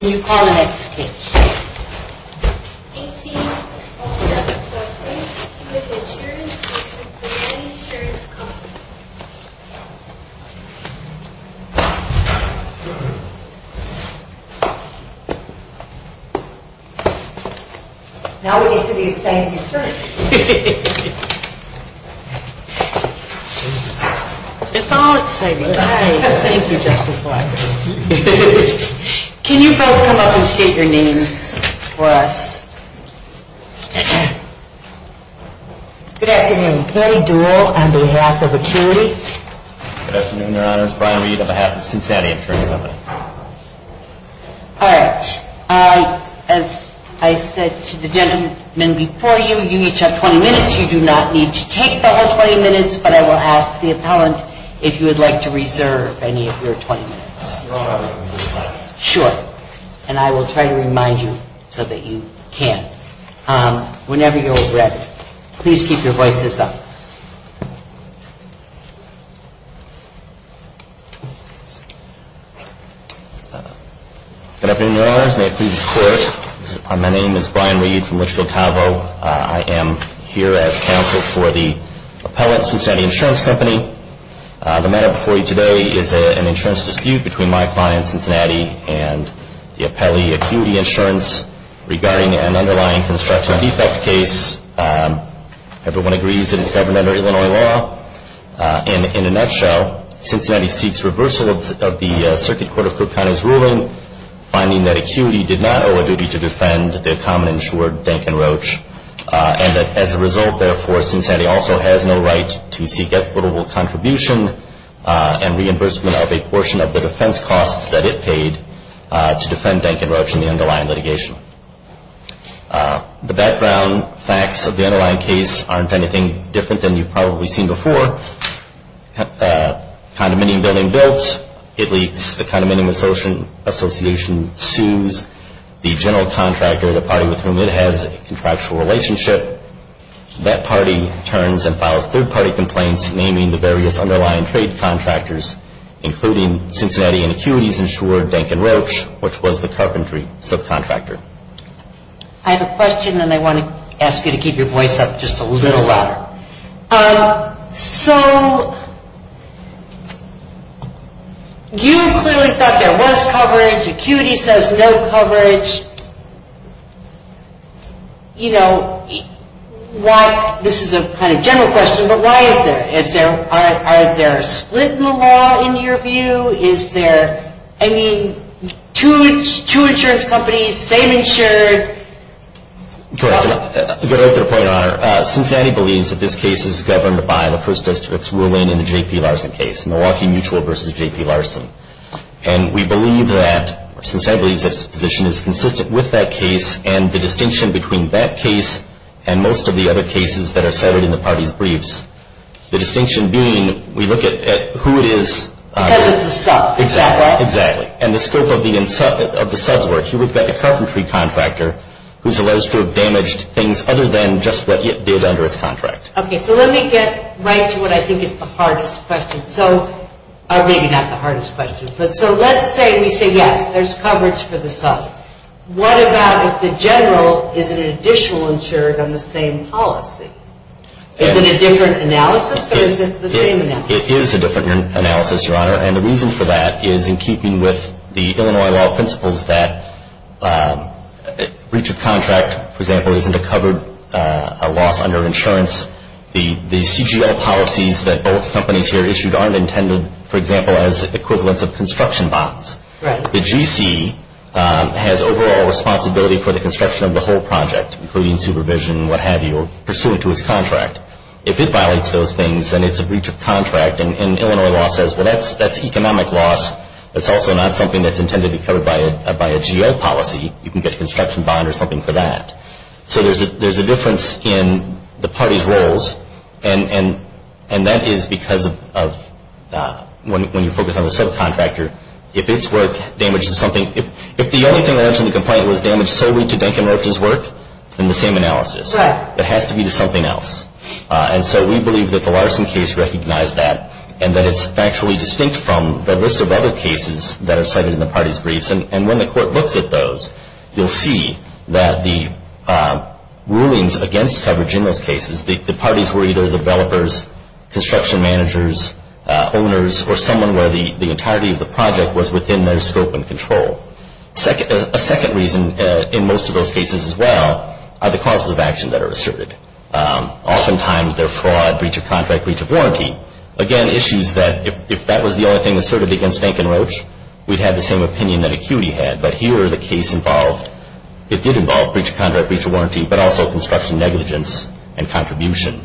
Can you call the next case? Now we need to do the same insurance. It's all the same. Thank you, Justice Walker. Can you both come up and state your names for us? Good afternoon. Patty Doole on behalf of Acuity. Good afternoon, Your Honors. Brian Reed on behalf of Cincinnati Insurance Company. All right. As I said to the gentlemen before you, you each have 20 minutes. You do not need to take the whole 20 minutes, but I will ask the appellant if you would like to reserve any of your 20 minutes. Sure. And I will try to remind you so that you can. Whenever you're ready, please keep your voices up. Good afternoon, Your Honors. May it please the Court. My name is Brian Reed from Litchfield Cavo. I am here as counsel for the appellant, Cincinnati Insurance Company. The matter before you today is an insurance dispute between my client, Cincinnati, and the appellee, Acuity Insurance, regarding an underlying construction defect case. Everyone agrees that it's governed under Illinois law. In a nutshell, Cincinnati seeks reversal of the Circuit Court of Cook County's ruling, finding that Acuity did not owe a duty to defend their common insured, Dankin Roach, and that as a result, therefore, Cincinnati also has no right to seek equitable contribution and reimbursement of a portion of the defense costs that it paid to defend Dankin Roach in the underlying litigation. The background facts of the underlying case aren't anything different than you've probably seen before. Condemning building built, it leaks, the Condemning Association sues, the general contractor, the party with whom it has a contractual relationship, that party turns and files third-party complaints naming the various underlying trade contractors, including Cincinnati and Acuity's insured Dankin Roach, which was the carpentry subcontractor. I have a question and I want to ask you to keep your voice up just a little louder. So you clearly thought there was coverage. Acuity says no coverage. You know, this is a kind of general question, but why is there? Are there split in the law in your view? Is there, I mean, two insurance companies, same insured? Correct. I'll get right to the point, Your Honor. Cincinnati believes that this case is governed by the First District's ruling in the J.P. Larson case, Milwaukee Mutual v. J.P. Larson. And we believe that, Cincinnati believes that its position is consistent with that case and the distinction between that case and most of the other cases that are cited in the party's briefs. The distinction being we look at who it is. Because it's a sub. Exactly. Exactly. And the scope of the sub's work, you would get the carpentry contractor who's alleged to have damaged things other than just what it did under its contract. Okay. So let me get right to what I think is the hardest question. Or maybe not the hardest question. So let's say we say yes, there's coverage for the sub. What about if the general isn't an additional insured on the same policy? Is it a different analysis or is it the same analysis? It is a different analysis, Your Honor. And the reason for that is in keeping with the Illinois law principles that breach of contract, for example, isn't a covered loss under insurance. The CGL policies that both companies here issued aren't intended, for example, as equivalents of construction bonds. Right. The GC has overall responsibility for the construction of the whole project, including supervision, what have you, or pursuant to its contract. If it violates those things, then it's a breach of contract. And Illinois law says, well, that's economic loss. That's also not something that's intended to be covered by a GL policy. You can get a construction bond or something for that. So there's a difference in the parties' roles, and that is because of when you focus on the subcontractor, if it's work damaged to something, if the only thing that ends in the complaint was damage solely to Duncan Roach's work, then the same analysis. Right. It has to be to something else. And so we believe that the Larson case recognized that and that it's factually distinct from the list of other cases that are cited in the parties' briefs. And when the court looks at those, you'll see that the rulings against coverage in those cases, the parties were either developers, construction managers, owners, or someone where the entirety of the project was within their scope and control. A second reason in most of those cases as well are the causes of action that are asserted. Oftentimes they're fraud, breach of contract, breach of warranty. Again, issues that if that was the only thing asserted against Duncan Roach, we'd have the same opinion that ACUITY had. But here the case involved, it did involve breach of contract, breach of warranty, but also construction negligence and contribution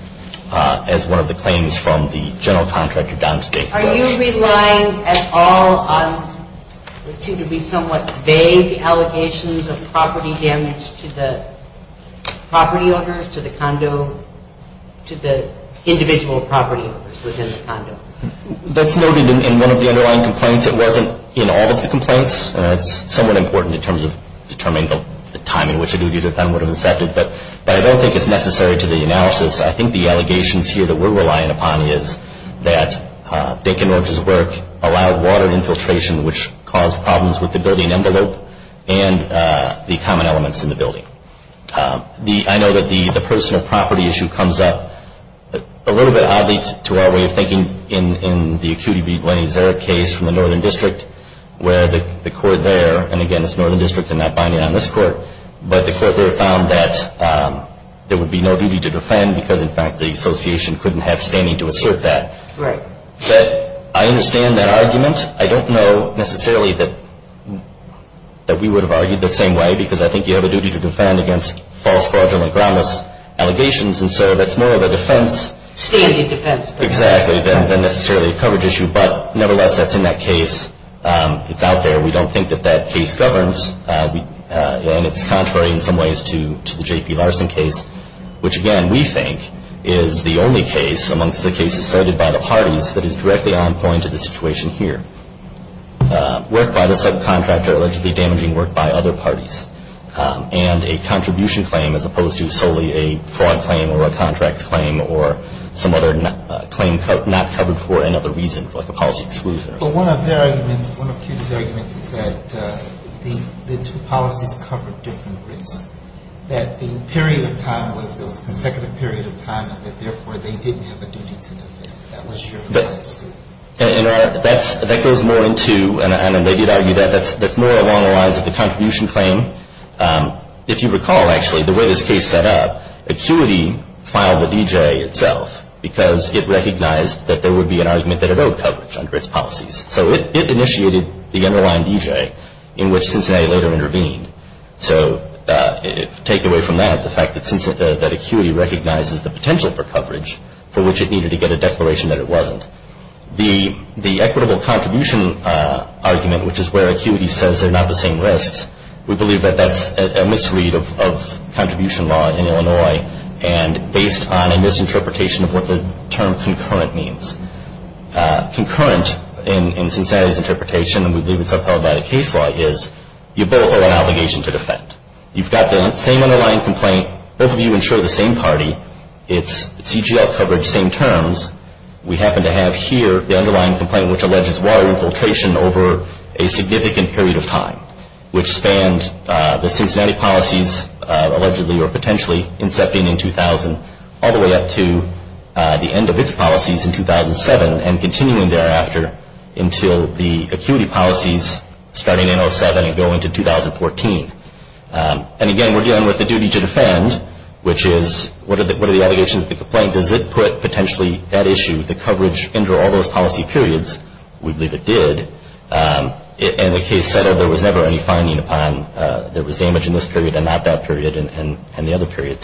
as one of the claims from the general contractor down to Duncan Roach. Are you relying at all on what seem to be somewhat vague allegations of property damage to the property owners, to the condo, to the individual property owners within the condo? That's noted in one of the underlying complaints. It wasn't in all of the complaints. It's somewhat important in terms of determining the time in which a duty to defend would have excepted. But I don't think it's necessary to the analysis. I think the allegations here that we're relying upon is that Duncan Roach's work allowed water infiltration, which caused problems with the building envelope and the common elements in the building. I know that the personal property issue comes up a little bit oddly to our way of thinking in the ACUITY v. Glennie Zarek case from the Northern District, where the court there, and again it's Northern District, I'm not binding on this court, but the court there found that there would be no duty to defend because in fact the association couldn't have standing to assert that. But I understand that argument. I don't know necessarily that we would have argued the same way because I think you have a duty to defend against false, fraudulent, groundless allegations. And so that's more of a defense. Exactly, than necessarily a coverage issue. But nevertheless, that's in that case. It's out there. We don't think that that case governs. And it's contrary in some ways to the J.P. Larson case, which again we think is the only case amongst the cases cited by the parties that is directly on point to the situation here. ...work by the subcontractor allegedly damaging work by other parties. And a contribution claim as opposed to solely a fraud claim or a contract claim or some other claim not covered for another reason, like a policy exclusion or something. But one of their arguments, one of ACUITY's arguments is that the two policies covered different risks. That the period of time was, there was a consecutive period of time and that therefore they didn't have a duty to defend. That was your argument. That goes more into, and they did argue that, that's more along the lines of the contribution claim. If you recall actually, the way this case set up, ACUITY filed the D.J. itself because it recognized that there would be an argument that it owed coverage under its policies. So it initiated the underlying D.J. in which Cincinnati later intervened. So take away from that the fact that ACUITY recognizes the potential for coverage for which it needed to get a declaration that it wasn't. The equitable contribution argument, which is where ACUITY says they're not the same risks, we believe that that's a misread of contribution law in Illinois and based on a misinterpretation of what the term concurrent means. Concurrent in Cincinnati's interpretation, and we believe it's upheld by the case law, is you both owe an obligation to defend. You've got the same underlying complaint, both of you insure the same party, it's CGL coverage, same terms. We happen to have here the underlying complaint which alleges water infiltration over a significant period of time, which spanned the Cincinnati policies allegedly or potentially incepting in 2000 all the way up to the end of its policies in 2007 and continuing thereafter until the ACUITY policies starting in 07 and going to 2014. And again, we're dealing with the duty to defend, which is what are the allegations of the complaint? Does it put potentially that issue, the coverage under all those policy periods? We believe it did. And the case said there was never any finding upon there was damage in this period and not that period and the other period.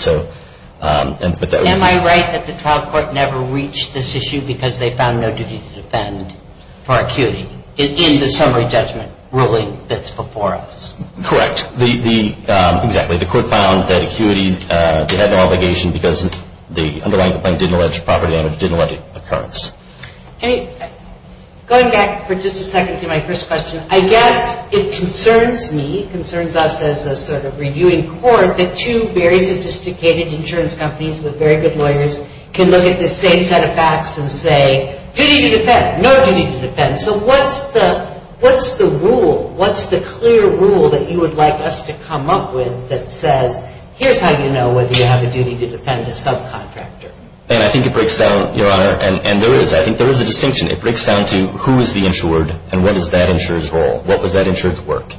Am I right that the trial court never reached this issue because they found no duty to defend for ACUITY in the summary judgment ruling that's before us? Correct. Exactly. The court found that ACUITY had no obligation because the underlying complaint didn't allege property damage, didn't allege occurrence. Going back for just a second to my first question, I guess it concerns me, concerns us as a sort of reviewing court that two very sophisticated insurance companies with very good lawyers can look at the same set of facts and say, duty to defend, no duty to defend. So what's the rule? What's the clear rule that you would like us to come up with that says, here's how you know whether you have a duty to defend a subcontractor? And I think it breaks down, Your Honor, and there is, I think there is a distinction. It breaks down to who is the insured and what is that insurer's role? What was that insurer's work?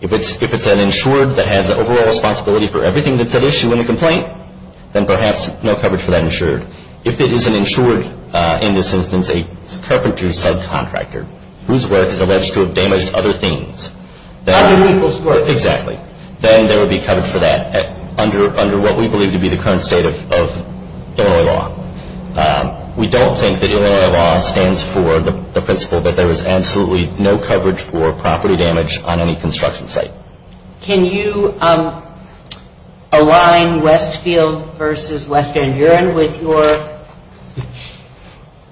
If it's an insured that has the overall responsibility for everything that's at issue in the complaint, then perhaps no coverage for that insured. If it is an insured, in this instance, a carpenter subcontractor whose work is alleged to have damaged other things, then Other people's work. We don't think that Illinois law stands for the principle that there is absolutely no coverage for property damage on any construction site. Can you align Westfield v. Western Bureau with your,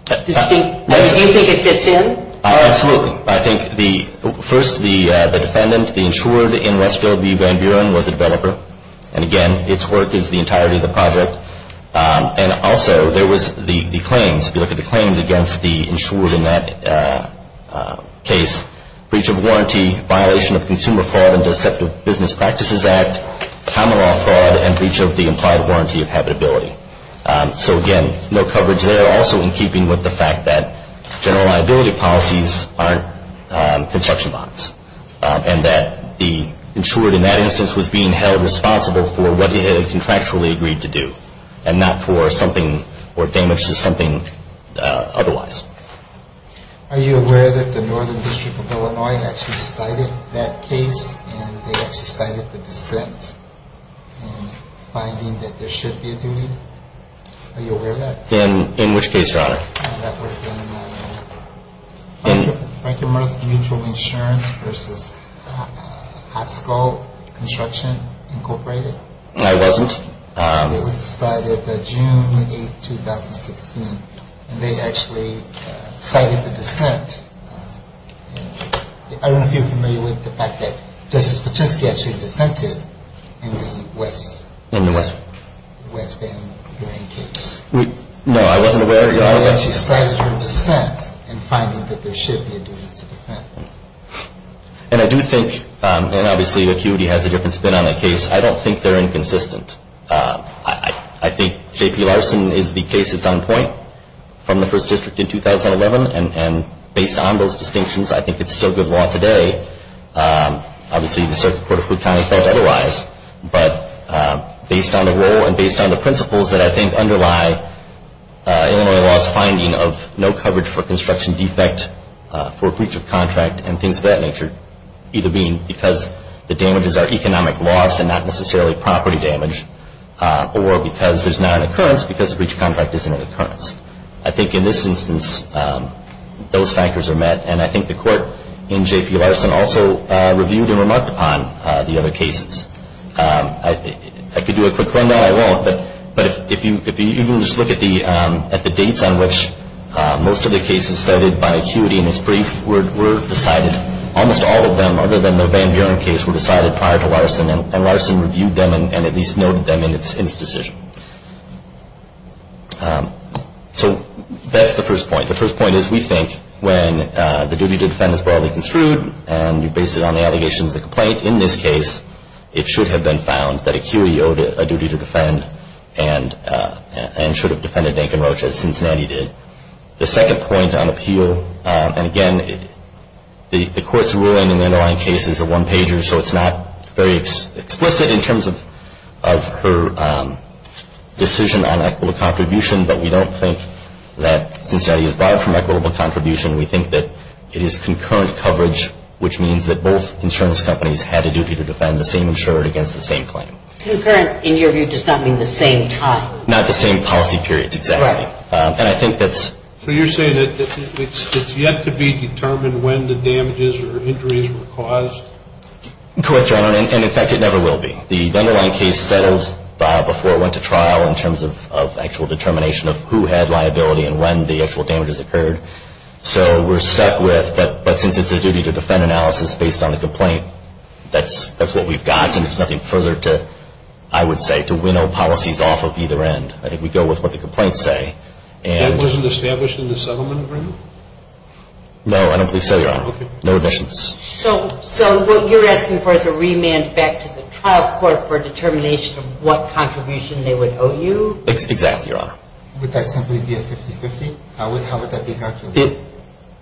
do you think it fits in? Oh, absolutely. I think the, first the defendant, the insured in Westfield Bureau was a developer. And again, its work is the entirety of the project. And also, there was the claims. If you look at the claims against the insured in that case, breach of warranty, violation of Consumer Fraud and Deceptive Business Practices Act, common law fraud, and breach of the implied warranty of habitability. So again, no coverage there. Also, in keeping with the fact that general liability policies aren't construction bonds and that the insured in that instance was being held responsible for what he had contractually agreed to do and not for something or damage to something otherwise. Are you aware that the Northern District of Illinois actually cited that case and they actually cited the dissent in finding that there should be a duty? Are you aware of that? In which case, Your Honor? That was in Frank and Martha Mutual Insurance versus Hopscull Construction Incorporated. I wasn't. And it was decided June 8, 2016. And they actually cited the dissent. I don't know if you're familiar with the fact that Justice Patisky actually dissented in the Westfield Bureau case. No, I wasn't aware of that. I don't know that she cited her dissent in finding that there should be a duty to defend. And I do think, and obviously acuity has a different spin on the case, I don't think they're inconsistent. I think J.P. Larson is the case that's on point from the First District in 2011. And based on those distinctions, I think it's still good law today. Obviously, the Circuit Court of Cook County felt otherwise. But based on the rule and based on the principles that I think underlie Illinois law's finding of no coverage for construction defect, for breach of contract, and things of that nature, either being because the damages are economic loss and not necessarily property damage, or because there's not an occurrence because a breach of contract isn't an occurrence. I think in this instance, those factors are met. And I think the court in J.P. Larson also reviewed and remarked upon the other cases. I could do a quick rundown. I won't. But if you just look at the dates on which most of the cases cited by acuity in this brief were decided, almost all of them other than the Van Buren case were decided prior to Larson, and Larson reviewed them and at least noted them in its decision. So that's the first point. The first point is we think when the duty to defend is broadly construed and you base it on the allegations of the complaint, in this case it should have been found that acuity owed a duty to defend and should have defended Dinkin Roach as Cincinnati did. The second point on appeal, and again, the court's ruling in the underlying case is a one-pager, so it's not very explicit in terms of her decision on equitable contribution, but we don't think that Cincinnati is barred from equitable contribution. We think that it is concurrent coverage, which means that both insurance companies had a duty to defend the same insurer against the same claim. Concurrent, in your view, does not mean the same time. Not the same policy periods, exactly. Right. And I think that's... So you're saying that it's yet to be determined when the damages or injuries were caused? Correct, Your Honor. And, in fact, it never will be. The underlying case settled before it went to trial in terms of actual determination of who had liability and when the actual damages occurred, so we're stuck with, but since it's a duty to defend analysis based on the complaint, that's what we've got and there's nothing further to, I would say, to winnow policies off of either end. I think we go with what the complaints say and... That wasn't established in the settlement agreement? No, I don't believe so, Your Honor. Okay. No additions. So what you're asking for is a remand back to the trial court for determination of what contribution they would owe you? Exactly, Your Honor. Would that simply be a 50-50? How would that be calculated?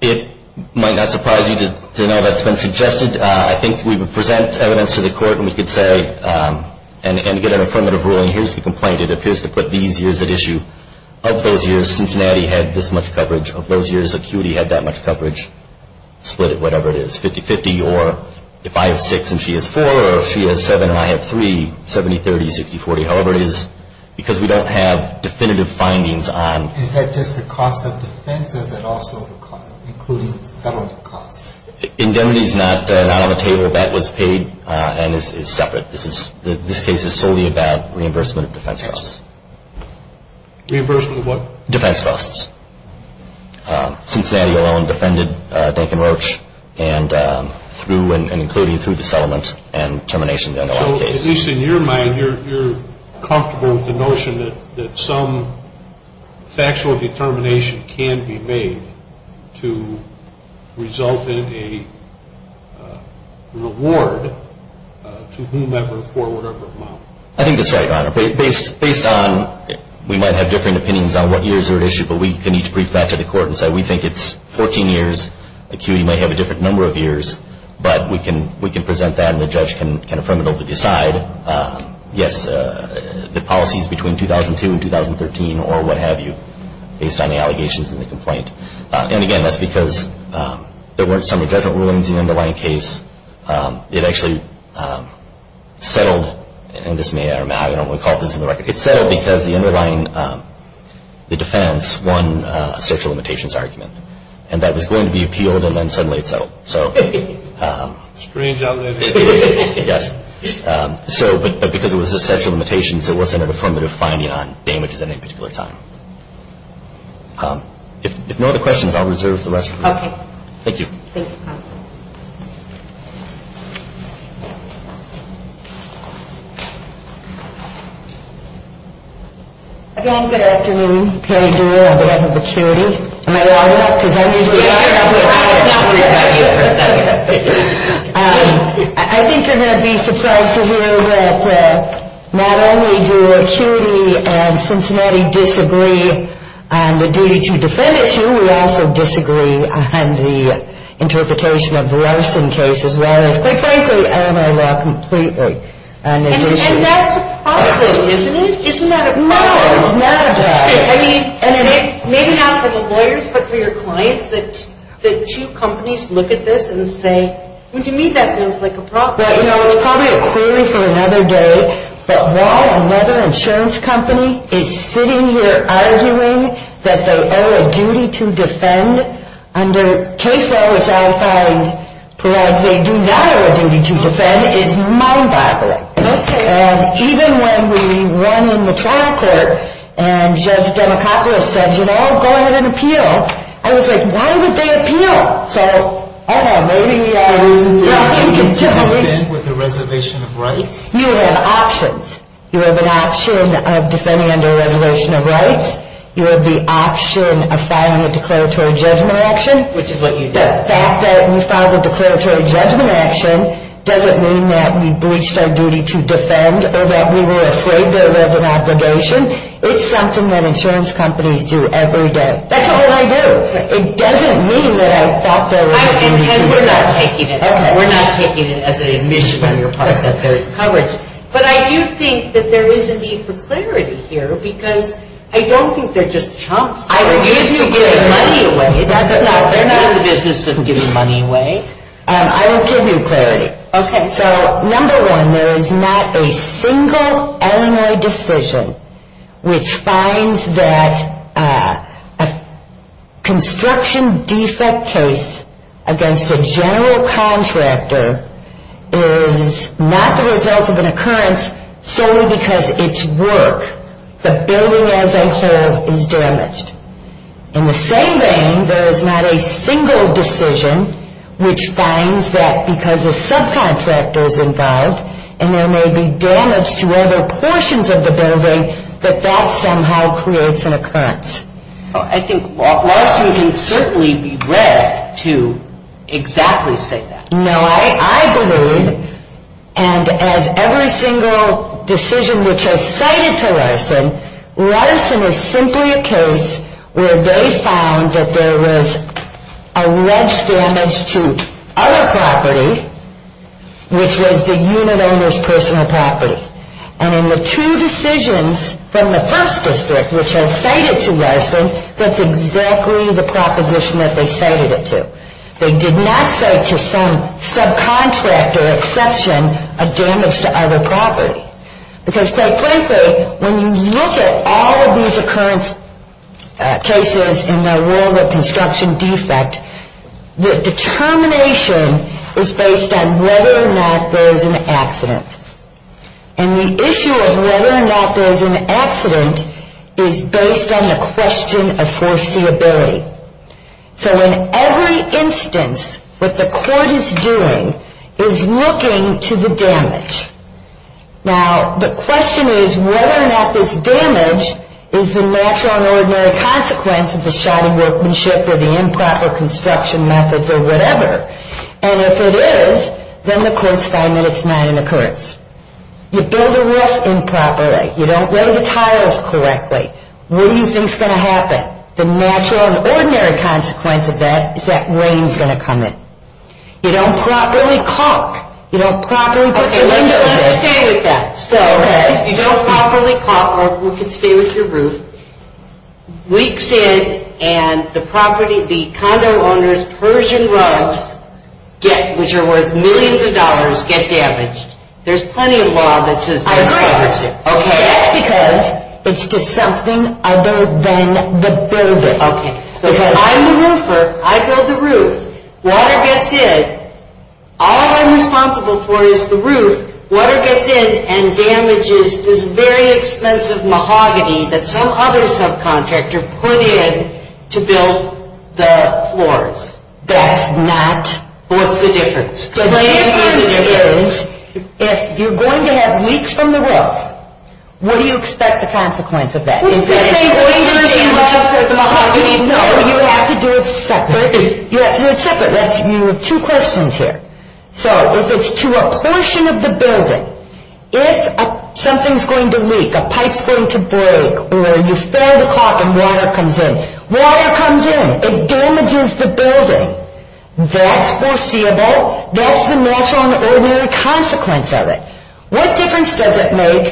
It might not surprise you to know that's been suggested. I think we would present evidence to the court and we could say, and get an affirmative ruling, here's the complaint. It appears to put these years at issue. Of those years, Cincinnati had this much coverage. Of those years, Acuity had that much coverage. Split it, whatever it is, 50-50, or if I have six and she has four, or if she has seven and I have three, 70-30, 60-40, however it is, because we don't have definitive findings on... Is that just the cost of defense, or is that also the cost, including settlement costs? Indemnity is not on the table. That was paid and is separate. This case is solely about reimbursement of defense costs. Reimbursement of what? Defense costs. Cincinnati alone defended Duncan Roach, and through and including through the settlement and termination of the case. So, at least in your mind, you're comfortable with the notion that some factual determination can be made to result in a reward to whomever for whatever amount? I think that's right, Your Honor. Based on, we might have different opinions on what years are at issue, but we can each brief that to the court and say we think it's 14 years. The community might have a different number of years, but we can present that and the judge can affirmatively decide, yes, the policies between 2002 and 2013 or what have you, based on the allegations in the complaint. And, again, that's because there weren't summary judgment rulings in the underlying case. It actually settled, and this may or may not, I don't want to call this in the record, but it settled because the underlying defense won a social limitations argument. And that was going to be appealed and then suddenly it settled. Strange, I'll admit. Yes. But because it was a social limitation, so it wasn't an affirmative finding on damages at any particular time. If no other questions, I'll reserve the rest for you. Okay. Thank you. Thank you. Again, good afternoon. Carrie Durer, Board of Acuity. Am I on yet? Because I'm usually on. I think you're going to be surprised to hear that not only do Acuity and Cincinnati disagree on the duty to defend at issue, we also disagree on the interpretation of the Larson case as well as, quite frankly, Illinois law completely on this issue. And that's a problem, isn't it? Isn't that a problem? No, it's not a problem. I mean, maybe not for the lawyers, but for your clients, that two companies look at this and say, well, to me that feels like a problem. Well, you know, it's probably a query for another day, but while another insurance company is sitting here arguing that they owe a duty to defend, under case law, which I find provides they do not owe a duty to defend, is mind-boggling. Okay. And even when we run in the trial court and Judge Democopoulos says, you know, go ahead and appeal, I was like, why would they appeal? So, I don't know, maybe we ought to continue. Isn't there a continued event with the reservation of rights? You have options. You have an option of defending under a reservation of rights. You have the option of filing a declaratory judgment action. Which is what you did. The fact that we filed a declaratory judgment action doesn't mean that we breached our duty to defend or that we were afraid there was an obligation. It's something that insurance companies do every day. That's all I do. It doesn't mean that I thought there was a duty to defend. And we're not taking it. Okay. We're not taking it as an admission on your part that there is coverage. But I do think that there is a need for clarity here because I don't think they're just chumps. I refuse to give money away. They're not in the business of giving money away. I will give you clarity. Okay. So, number one, there is not a single Illinois decision which finds that a construction defect case against a general contractor is not the result of an occurrence solely because it's work. The building as a whole is damaged. In the same vein, there is not a single decision which finds that because a subcontractor is involved and there may be damage to other portions of the building, that that somehow creates an occurrence. I think Larson can certainly be read to exactly say that. No, I believe, and as every single decision which has cited to Larson, Larson is simply a case where they found that there was alleged damage to other property, which was the unit owner's personal property. And in the two decisions from the first district which have cited to Larson, that's exactly the proposition that they cited it to. They did not cite to some subcontractor exception a damage to other property. Because, quite frankly, when you look at all of these occurrence cases in the world of construction defect, the determination is based on whether or not there is an accident. And the issue of whether or not there is an accident is based on the question of foreseeability. So in every instance, what the court is doing is looking to the damage. Now, the question is whether or not this damage is the natural and ordinary consequence of the shoddy workmanship or the improper construction methods or whatever. And if it is, then the court's finding that it's not an occurrence. You build a roof improperly, you don't lay the tiles correctly, what do you think's going to happen? The natural and ordinary consequence of that is that rain's going to come in. You don't properly caulk. You don't properly put the windows in. Okay, let's stay with that. So, you don't properly caulk or you can stay with your roof. Weeks in and the property, the condo owner's Persian rugs get, which are worth millions of dollars, get damaged. There's plenty of law that says there's property. I agree with you. Okay. That's because it's to something other than the building. Okay. If I'm the roofer, I build the roof. Water gets in. All I'm responsible for is the roof. Water gets in and damages this very expensive mahogany that some other subcontractor put in to build the floors. That's not. What's the difference? The difference is if you're going to have leaks from the roof, what do you expect the consequence of that? What's the same going to damage? No, you have to do it separate. You have to do it separate. You have two questions here. So, if it's to a portion of the building, if something's going to leak, a pipe's going to break, or you fail the caulk and water comes in, water comes in, it damages the building. That's foreseeable. That's the natural and ordinary consequence of it. What difference does it make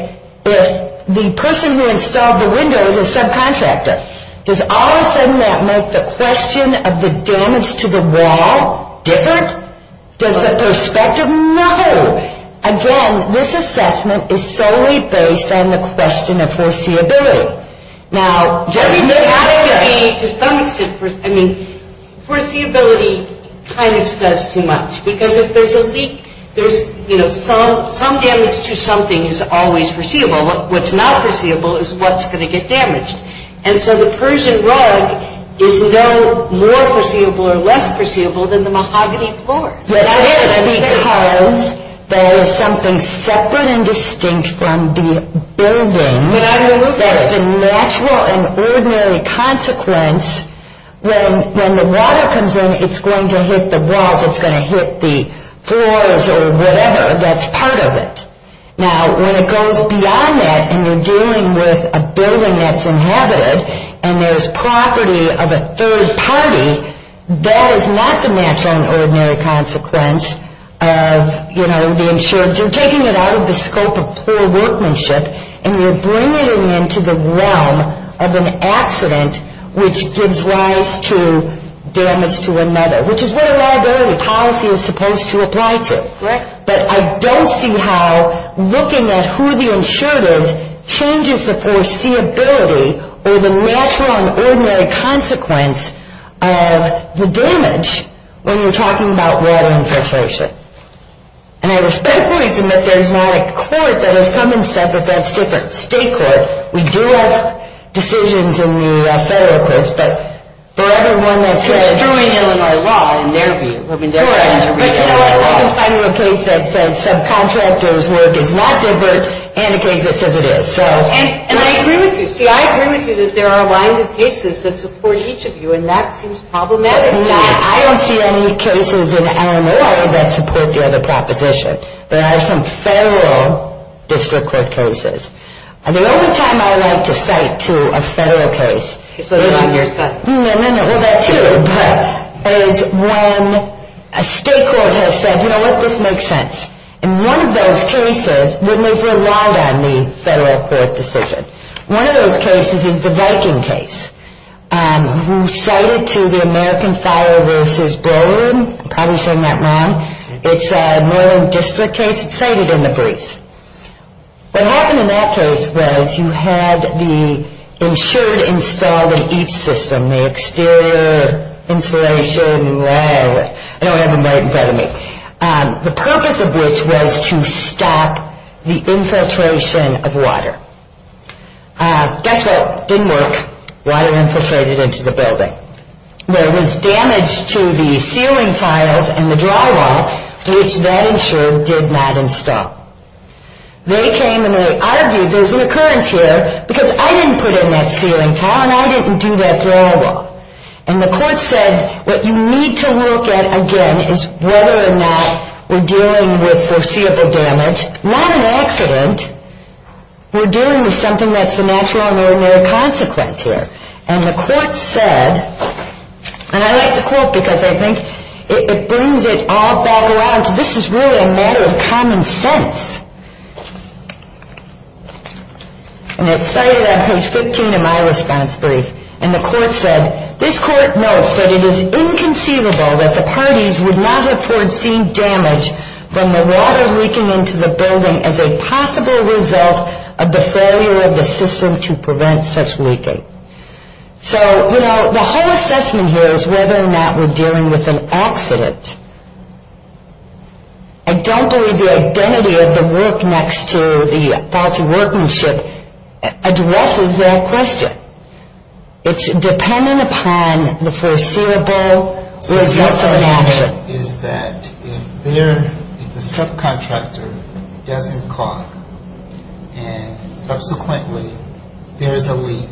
if the person who installed the window is a subcontractor? Does all of a sudden that make the question of the damage to the wall different? Does the perspective? No. Again, this assessment is solely based on the question of foreseeability. Now, there has to be, to some extent, I mean, foreseeability kind of says too much. Because if there's a leak, there's, you know, some damage to something is always foreseeable. What's not foreseeable is what's going to get damaged. And so the Persian rug is no more foreseeable or less foreseeable than the mahogany floor. Yes, it is. Because there is something separate and distinct from the building that's the natural and ordinary consequence. When the water comes in, it's going to hit the walls. It's going to hit the floors or whatever that's part of it. Now, when it goes beyond that and you're dealing with a building that's inhabited and there's property of a third party, that is not the natural and ordinary consequence of, you know, the insurance. You're taking it out of the scope of poor workmanship and you're bringing it into the realm of an accident which gives rise to damage to another, which is what a liability policy is supposed to apply to. Correct. But I don't see how looking at who the insured is changes the foreseeability or the natural and ordinary consequence of the damage when you're talking about water infiltration. And I respect the reason that there's not a court that has come and said that that's different. State court. We do have decisions in the federal courts, but for everyone that says... It's true in Illinois law, in their view. But you know what, I can find you a case that says subcontractors' work is not different and a case that says it is. And I agree with you. See, I agree with you that there are lines of cases that support each of you and that seems problematic to me. I don't see any cases in Illinois that support the other proposition. There are some federal district court cases. The only time I like to cite to a federal case is when... A state court has said, you know what, this makes sense. In one of those cases, when they've relied on the federal court decision, one of those cases is the Viking case, who cited to the American Fire vs. Brewery. I'm probably saying that wrong. It's a Maryland district case. It's cited in the briefs. What happened in that case was you had the insured installed in each system, including the exterior insulation and all that. I know I have them right in front of me. The purpose of which was to stop the infiltration of water. Guess what? Didn't work. Water infiltrated into the building. There was damage to the ceiling tiles and the drywall, which that insured did not install. They came and they argued, there's an occurrence here, because I didn't put in that ceiling tile and I didn't do that drywall. The court said, what you need to look at, again, is whether or not we're dealing with foreseeable damage. Not an accident. We're dealing with something that's the natural and ordinary consequence here. The court said, and I like the quote because I think it brings it all back around to, this is really a matter of common sense. And it's cited on page 15 in my response brief. And the court said, this court notes that it is inconceivable that the parties would not have foreseen damage from the water leaking into the building as a possible result of the failure of the system to prevent such leaking. So, you know, the whole assessment here is whether or not we're dealing with an accident. I don't believe the identity of the work next to the faulty workmanship addresses that question. It's dependent upon the foreseeable results of an accident. So what I'm saying is that if the subcontractor doesn't call and subsequently there is a leak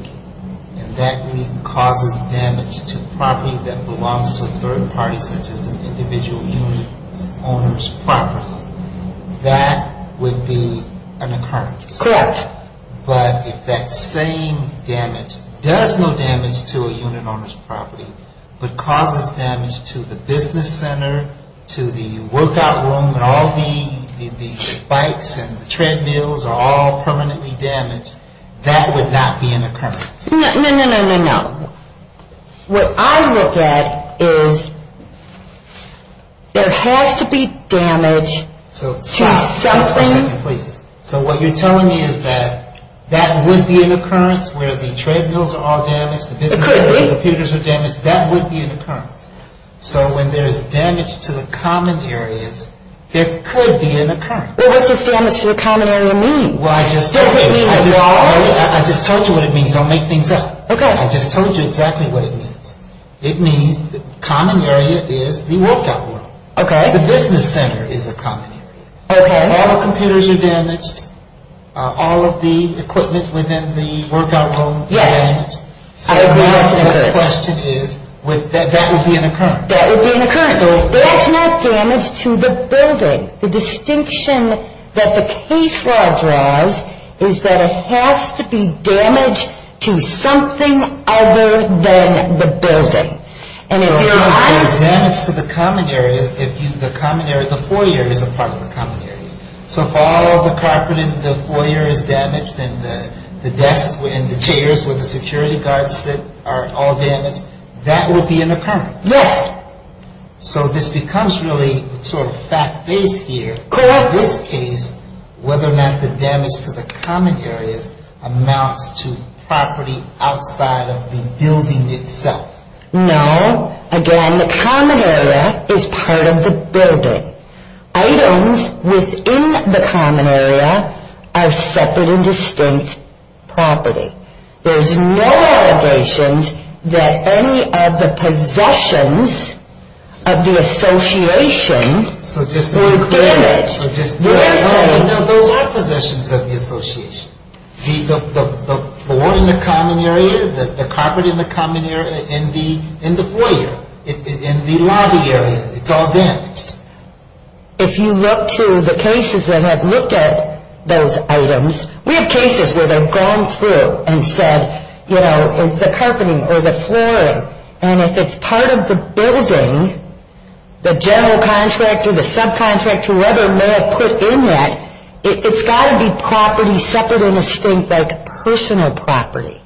and that leak causes damage to property that belongs to a third party such as an individual unit owner's property, that would be an occurrence. Correct. But if that same damage does no damage to a unit owner's property but causes damage to the business center, to the workout room, and all the bikes and the treadmills are all permanently damaged, that would not be an occurrence. No, no, no, no, no, no. What I look at is there has to be damage to something. Stop for a second, please. So what you're telling me is that that would be an occurrence where the treadmills are all damaged? It could be. The computers are damaged. That would be an occurrence. So when there's damage to the common areas, there could be an occurrence. Well, what does damage to the common area mean? Well, I just told you. Does it mean it's lost? I just told you what it means. Don't make things up. Okay. I just told you exactly what it means. It means the common area is the workout room. Okay. The business center is a common area. Okay. All the computers are damaged. All of the equipment within the workout room is damaged. Yes. I agree that's an occurrence. So the question is, that would be an occurrence. That would be an occurrence. So if that's not damage to the building, the distinction that the case law draws is that it has to be damage to something other than the building. So if there's damage to the common areas, the foyer is a part of the common areas. So if all the carpet in the foyer is damaged and the desk and the chairs with the security guards that are all damaged, that would be an occurrence. Yes. So this becomes really sort of fact-based here. Correct. In this case, whether or not the damage to the common areas amounts to property outside of the building itself. No. Again, the common area is part of the building. Items within the common area are separate and distinct property. There's no allegations that any of the possessions of the association were damaged. So just to be clear. What I'm saying. No, those are possessions of the association. The floor in the common area, the carpet in the common area, in the foyer, in the lobby area, it's all damaged. If you look to the cases that have looked at those items, we have cases where they've gone through and said, you know, the carpeting or the flooring, and if it's part of the building, the general contractor, the subcontractor, whoever may have put in that, it's got to be property separate and distinct, like personal property.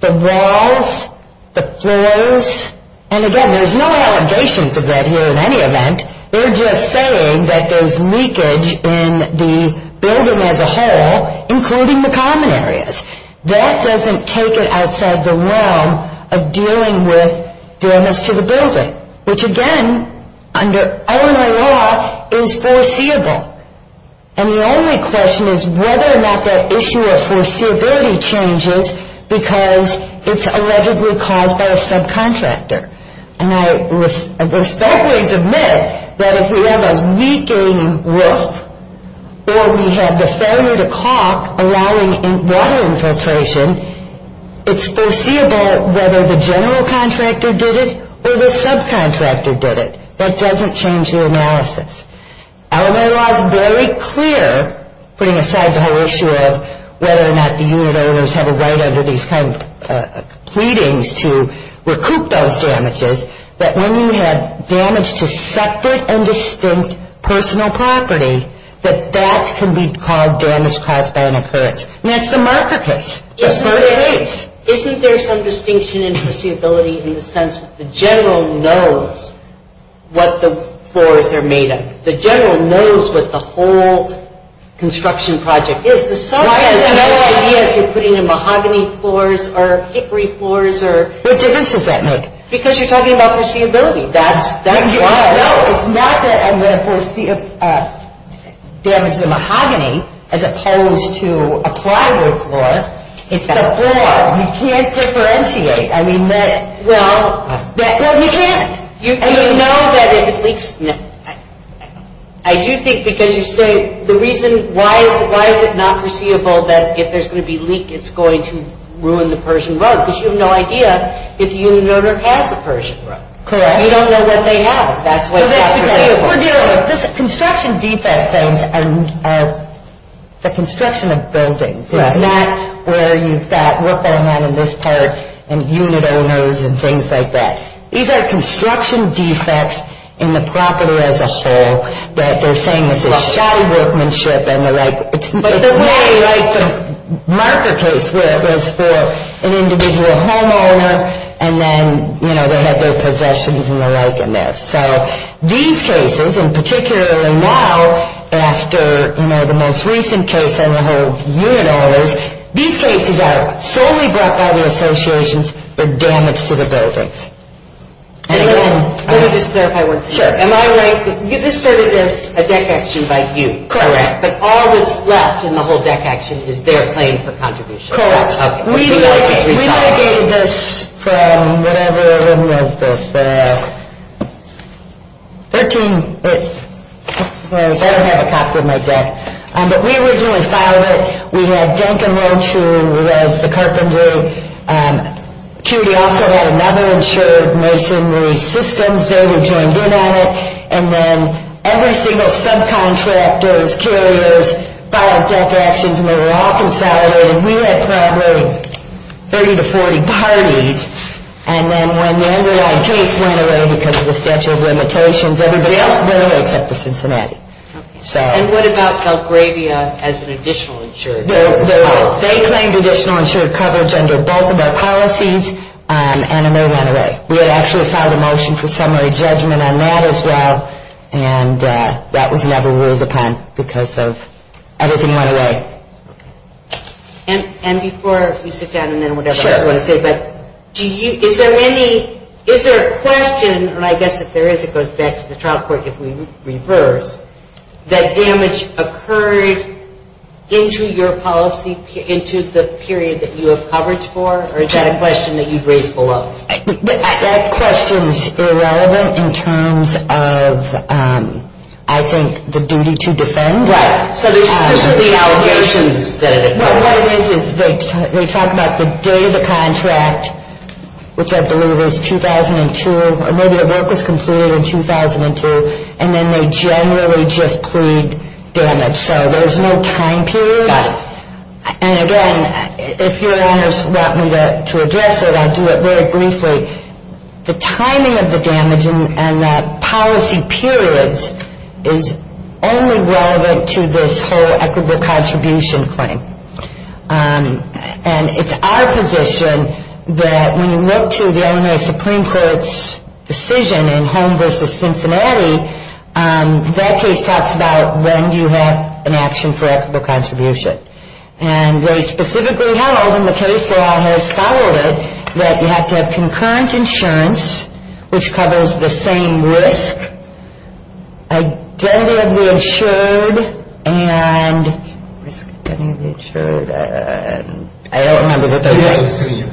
The walls, the floors, and again, there's no allegations of that here in any event. They're just saying that there's leakage in the building as a whole, including the common areas. That doesn't take it outside the realm of dealing with damage to the building, which again, under Illinois law, is foreseeable. And the only question is whether or not that issue of foreseeability changes because it's allegedly caused by a subcontractor. And I respectfully submit that if we have a weakening roof or we have the failure to caulk allowing water infiltration, it's foreseeable whether the general contractor did it or the subcontractor did it. That doesn't change the analysis. Illinois law is very clear, putting aside the whole issue of whether or not the unit owners have a right under these kind of pleadings to recoup those damages, that when you have damage to separate and distinct personal property, that that can be called damage caused by an occurrence. And that's the marker case, the first case. Isn't there some distinction in foreseeability in the sense that the general knows what the floors are made of? The general knows what the whole construction project is. The subcontractor has no idea if you're putting in mahogany floors or hickory floors or... What difference does that make? Because you're talking about foreseeability. That's why. No, it's not that I'm going to damage the mahogany as opposed to apply wood floor. It's the floor. It's the floor. You can't preferentiate. I mean, that... Well... Well, you can't. You know that it leaks. I do think because you say the reason why is it not foreseeable that if there's going to be leak, it's going to ruin the Pershing Road, because you have no idea if the unit owner has a Pershing Road. Correct. You don't know what they have. That's why it's not foreseeable. Construction defect things are the construction of buildings. It's not where you've got what's going on in this part and unit owners and things like that. These are construction defects in the property as a whole that they're saying this is shy workmanship and the like. It's not like the marker case where it was for an individual homeowner, and then, you know, they had their possessions and the like in there. So these cases, and particularly now, after, you know, the most recent case and the whole unit owners, these cases are solely brought by the associations, but damage to the buildings. Let me just clarify one thing. Sure. Am I right? This started as a deck action by you. Correct. But all that's left in the whole deck action is their claim for contribution. Correct. Okay. We mitigated this from whatever it was, the 13. I don't have a copy of my deck. But we originally filed it. We had Duncan Roach, who was the carpenter. Judy also had another insured masonry systems. They were joined in on it. And then every single subcontractor's carriers filed deck actions, and they were all consolidated. We had probably 30 to 40 parties. And then when the underlying case went away because of the statute of limitations, everybody else went away except for Cincinnati. Okay. And what about Belgravia as an additional insured? They claimed additional insured coverage under both of our policies, and then they went away. We had actually filed a motion for summary judgment on that as well, and that was never ruled upon because everything went away. And before you sit down and then whatever you want to say, but is there a question, and I guess if there is it goes back to the trial court if we reverse, that damage occurred into your policy, into the period that you have coverage for, or is that a question that you've raised below? That question is irrelevant in terms of, I think, the duty to defend. Right. So these are the allegations that have been placed. What it is is they talk about the date of the contract, which I believe was 2002, or maybe the work was completed in 2002, and then they generally just plead damage. So there's no time period. Right. And, again, if Your Honors want me to address it, I'll do it very briefly. The timing of the damage and the policy periods is only relevant to this whole equitable contribution claim. And it's our position that when you look to the Illinois Supreme Court's decision in Home v. Cincinnati, that case talks about when do you have an action for equitable contribution. And very specifically held in the case law has followed it that you have to have concurrent insurance, which covers the same risk, identity of the insured, and risk of identity of the insured. I don't remember what those are. You do.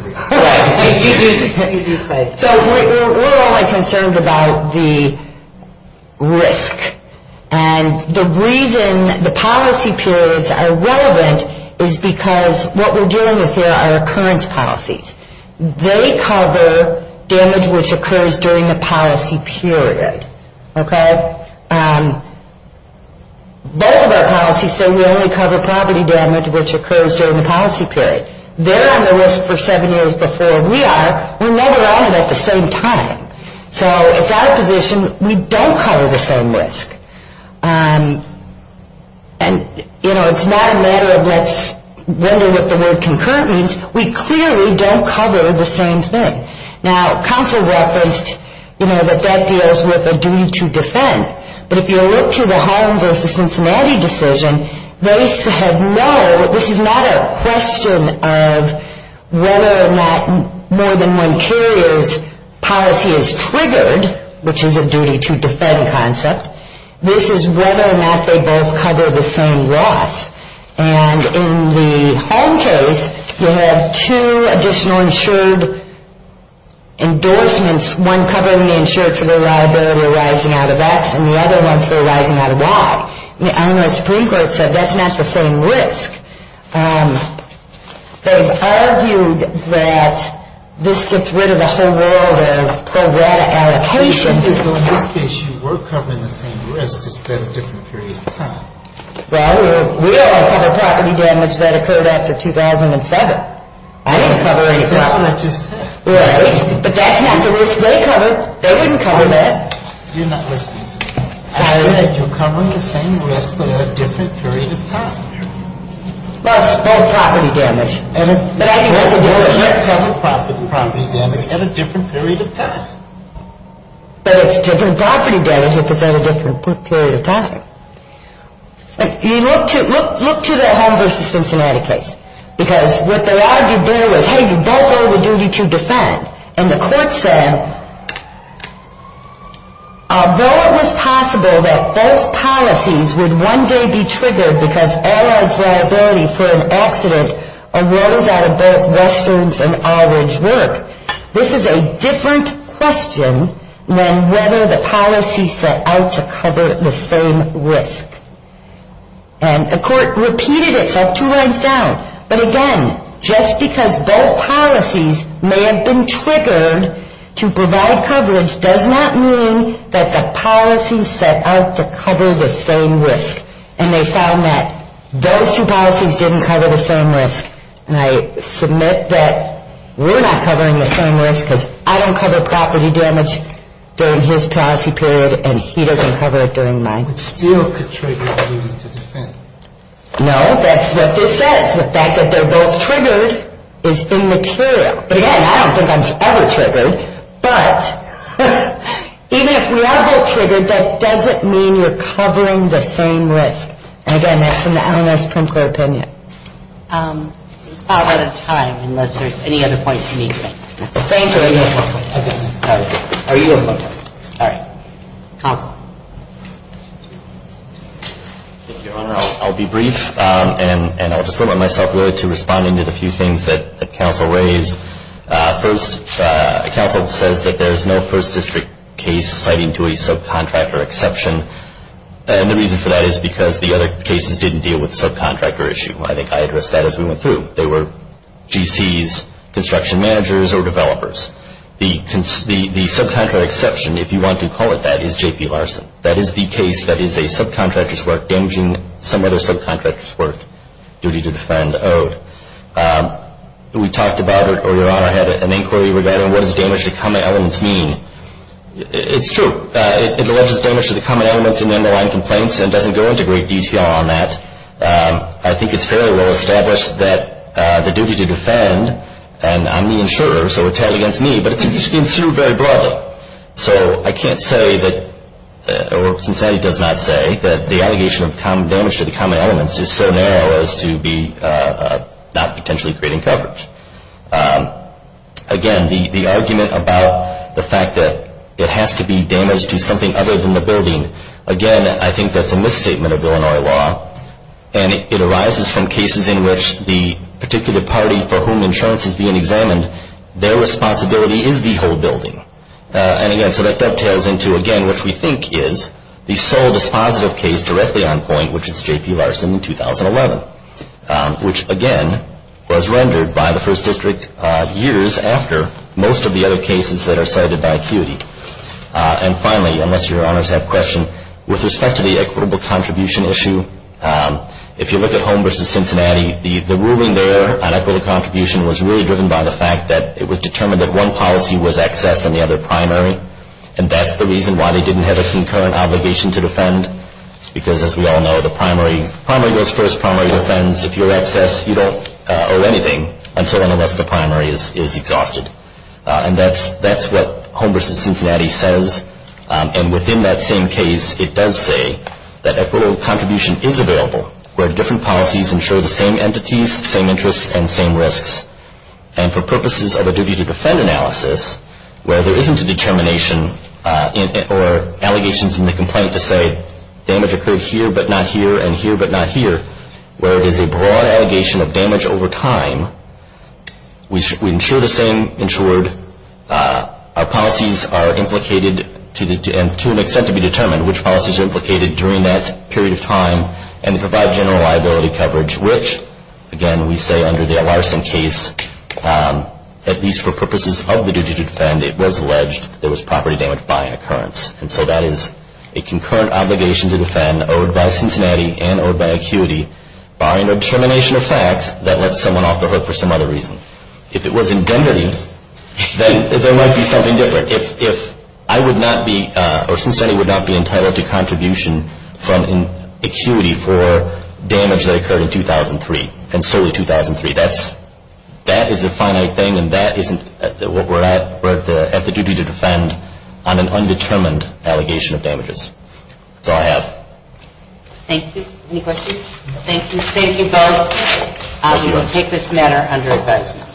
So we're only concerned about the risk. And the reason the policy periods are relevant is because what we're dealing with here are occurrence policies. They cover damage which occurs during the policy period. Okay? Both of our policies say we only cover property damage which occurs during the policy period. They're on the risk for seven years before we are. We're never on it at the same time. So it's our position we don't cover the same risk. And, you know, it's not a matter of let's wonder what the word concurrent means. We clearly don't cover the same thing. Now, counsel referenced, you know, that that deals with a duty to defend. But if you look to the Home v. Cincinnati decision, they said no, this is not a question of whether or not more than one carrier's policy is triggered, which is a duty to defend concept. This is whether or not they both cover the same loss. And in the Home case, you have two additional insured endorsements, one covering the insured for their liability arising out of X and the other one for arising out of Y. And the Supreme Court said that's not the same risk. They've argued that this gets rid of the whole world of pro rata allocation. Well, in this case, you were covering the same risk, just at a different period of time. Well, we are covering property damage that occurred after 2007. I didn't cover any property damage. That's what I just said. Right? But that's not the risk they covered. They wouldn't cover that. You're not listening to me. I said you're covering the same risk, but at a different period of time. Well, it's both property damage. But I didn't cover the risk. You're not covering property damage at a different period of time. But it's different property damage if it's at a different period of time. Look to the Home v. Cincinnati case. Because what they argued there was, hey, you both owe the duty to defend. And the court said, though it was possible that both policies would one day be triggered because Allied's liability for an accident arose out of both Western's and Allred's work, this is a different question than whether the policy set out to cover the same risk. And the court repeated itself two rounds down. But again, just because both policies may have been triggered to provide coverage does not mean that the policy set out to cover the same risk. And they found that those two policies didn't cover the same risk. And I submit that we're not covering the same risk because I don't cover property damage during his policy period, and he doesn't cover it during mine. But still could trigger the duty to defend. No, that's what this says. The fact that they're both triggered is immaterial. But again, I don't think I'm ever triggered. But even if we are both triggered, that doesn't mean we're covering the same risk. And again, that's from the LMS primary opinion. We're about out of time, unless there's any other points you need to make. Thank you. Are you in? All right. Counsel. Thank you, Your Honor. I'll be brief, and I'll just limit myself really to responding to the few things that the counsel raised. First, the counsel says that there is no first district case citing to a subcontractor exception. And the reason for that is because the other cases didn't deal with the subcontractor issue. I think I addressed that as we went through. They were GCs, construction managers, or developers. The subcontractor exception, if you want to call it that, is J.P. Larson. That is the case that is a subcontractor's work damaging some other subcontractor's work. Duty to defend owed. We talked about it earlier on. I had an inquiry regarding what does damage to common elements mean. It's true. It alleges damage to the common elements in the underlying complaints and doesn't go into great detail on that. I think it's fairly well established that the duty to defend, and I'm the insurer, so it's held against me, but it's been sued very broadly. So I can't say that, or Sincerely does not say, that the allegation of damage to the common elements is so narrow as to be not potentially creating coverage. Again, the argument about the fact that it has to be damage to something other than the building, again, I think that's a misstatement of Illinois law, and it arises from cases in which the particular party for whom insurance is being examined, their responsibility is the whole building. And, again, so that dovetails into, again, which we think is the sole dispositive case directly on point, which is J.P. Larson in 2011, which, again, was rendered by the first district years after most of the other cases that are cited by ACUITY. And, finally, unless your honors have questions, with respect to the equitable contribution issue, if you look at Home v. Cincinnati, the ruling there on equitable contribution was really driven by the fact that it was determined that one policy was excess and the other primary. And that's the reason why they didn't have a concurrent obligation to defend, because, as we all know, the primary goes first, primary defends. If you're excess, you don't owe anything until and unless the primary is exhausted. And that's what Home v. Cincinnati says. And within that same case, it does say that equitable contribution is available where different policies ensure the same entities, same interests, and same risks. And for purposes of a duty to defend analysis, where there isn't a determination or allegations in the complaint to say damage occurred here but not here and here but not here, where it is a broad allegation of damage over time, we ensure the same, ensured our policies are implicated to an extent to be determined, which policies are implicated during that period of time, and provide general liability coverage, which, again, we say under the Larson case, at least for purposes of the duty to defend, it was alleged that there was property damage by an occurrence. And so that is a concurrent obligation to defend owed by Cincinnati and owed by ACQUITY barring the determination of facts that lets someone off the hook for some other reason. If it was indemnity, then there might be something different. If I would not be, or Cincinnati would not be entitled to contribution from ACQUITY for damage that occurred in 2003, and solely 2003, that is a finite thing, and that isn't what we're at. We're at the duty to defend on an undetermined allegation of damages. That's all I have. Thank you. Any questions? Thank you both. We will take this matter under advisory.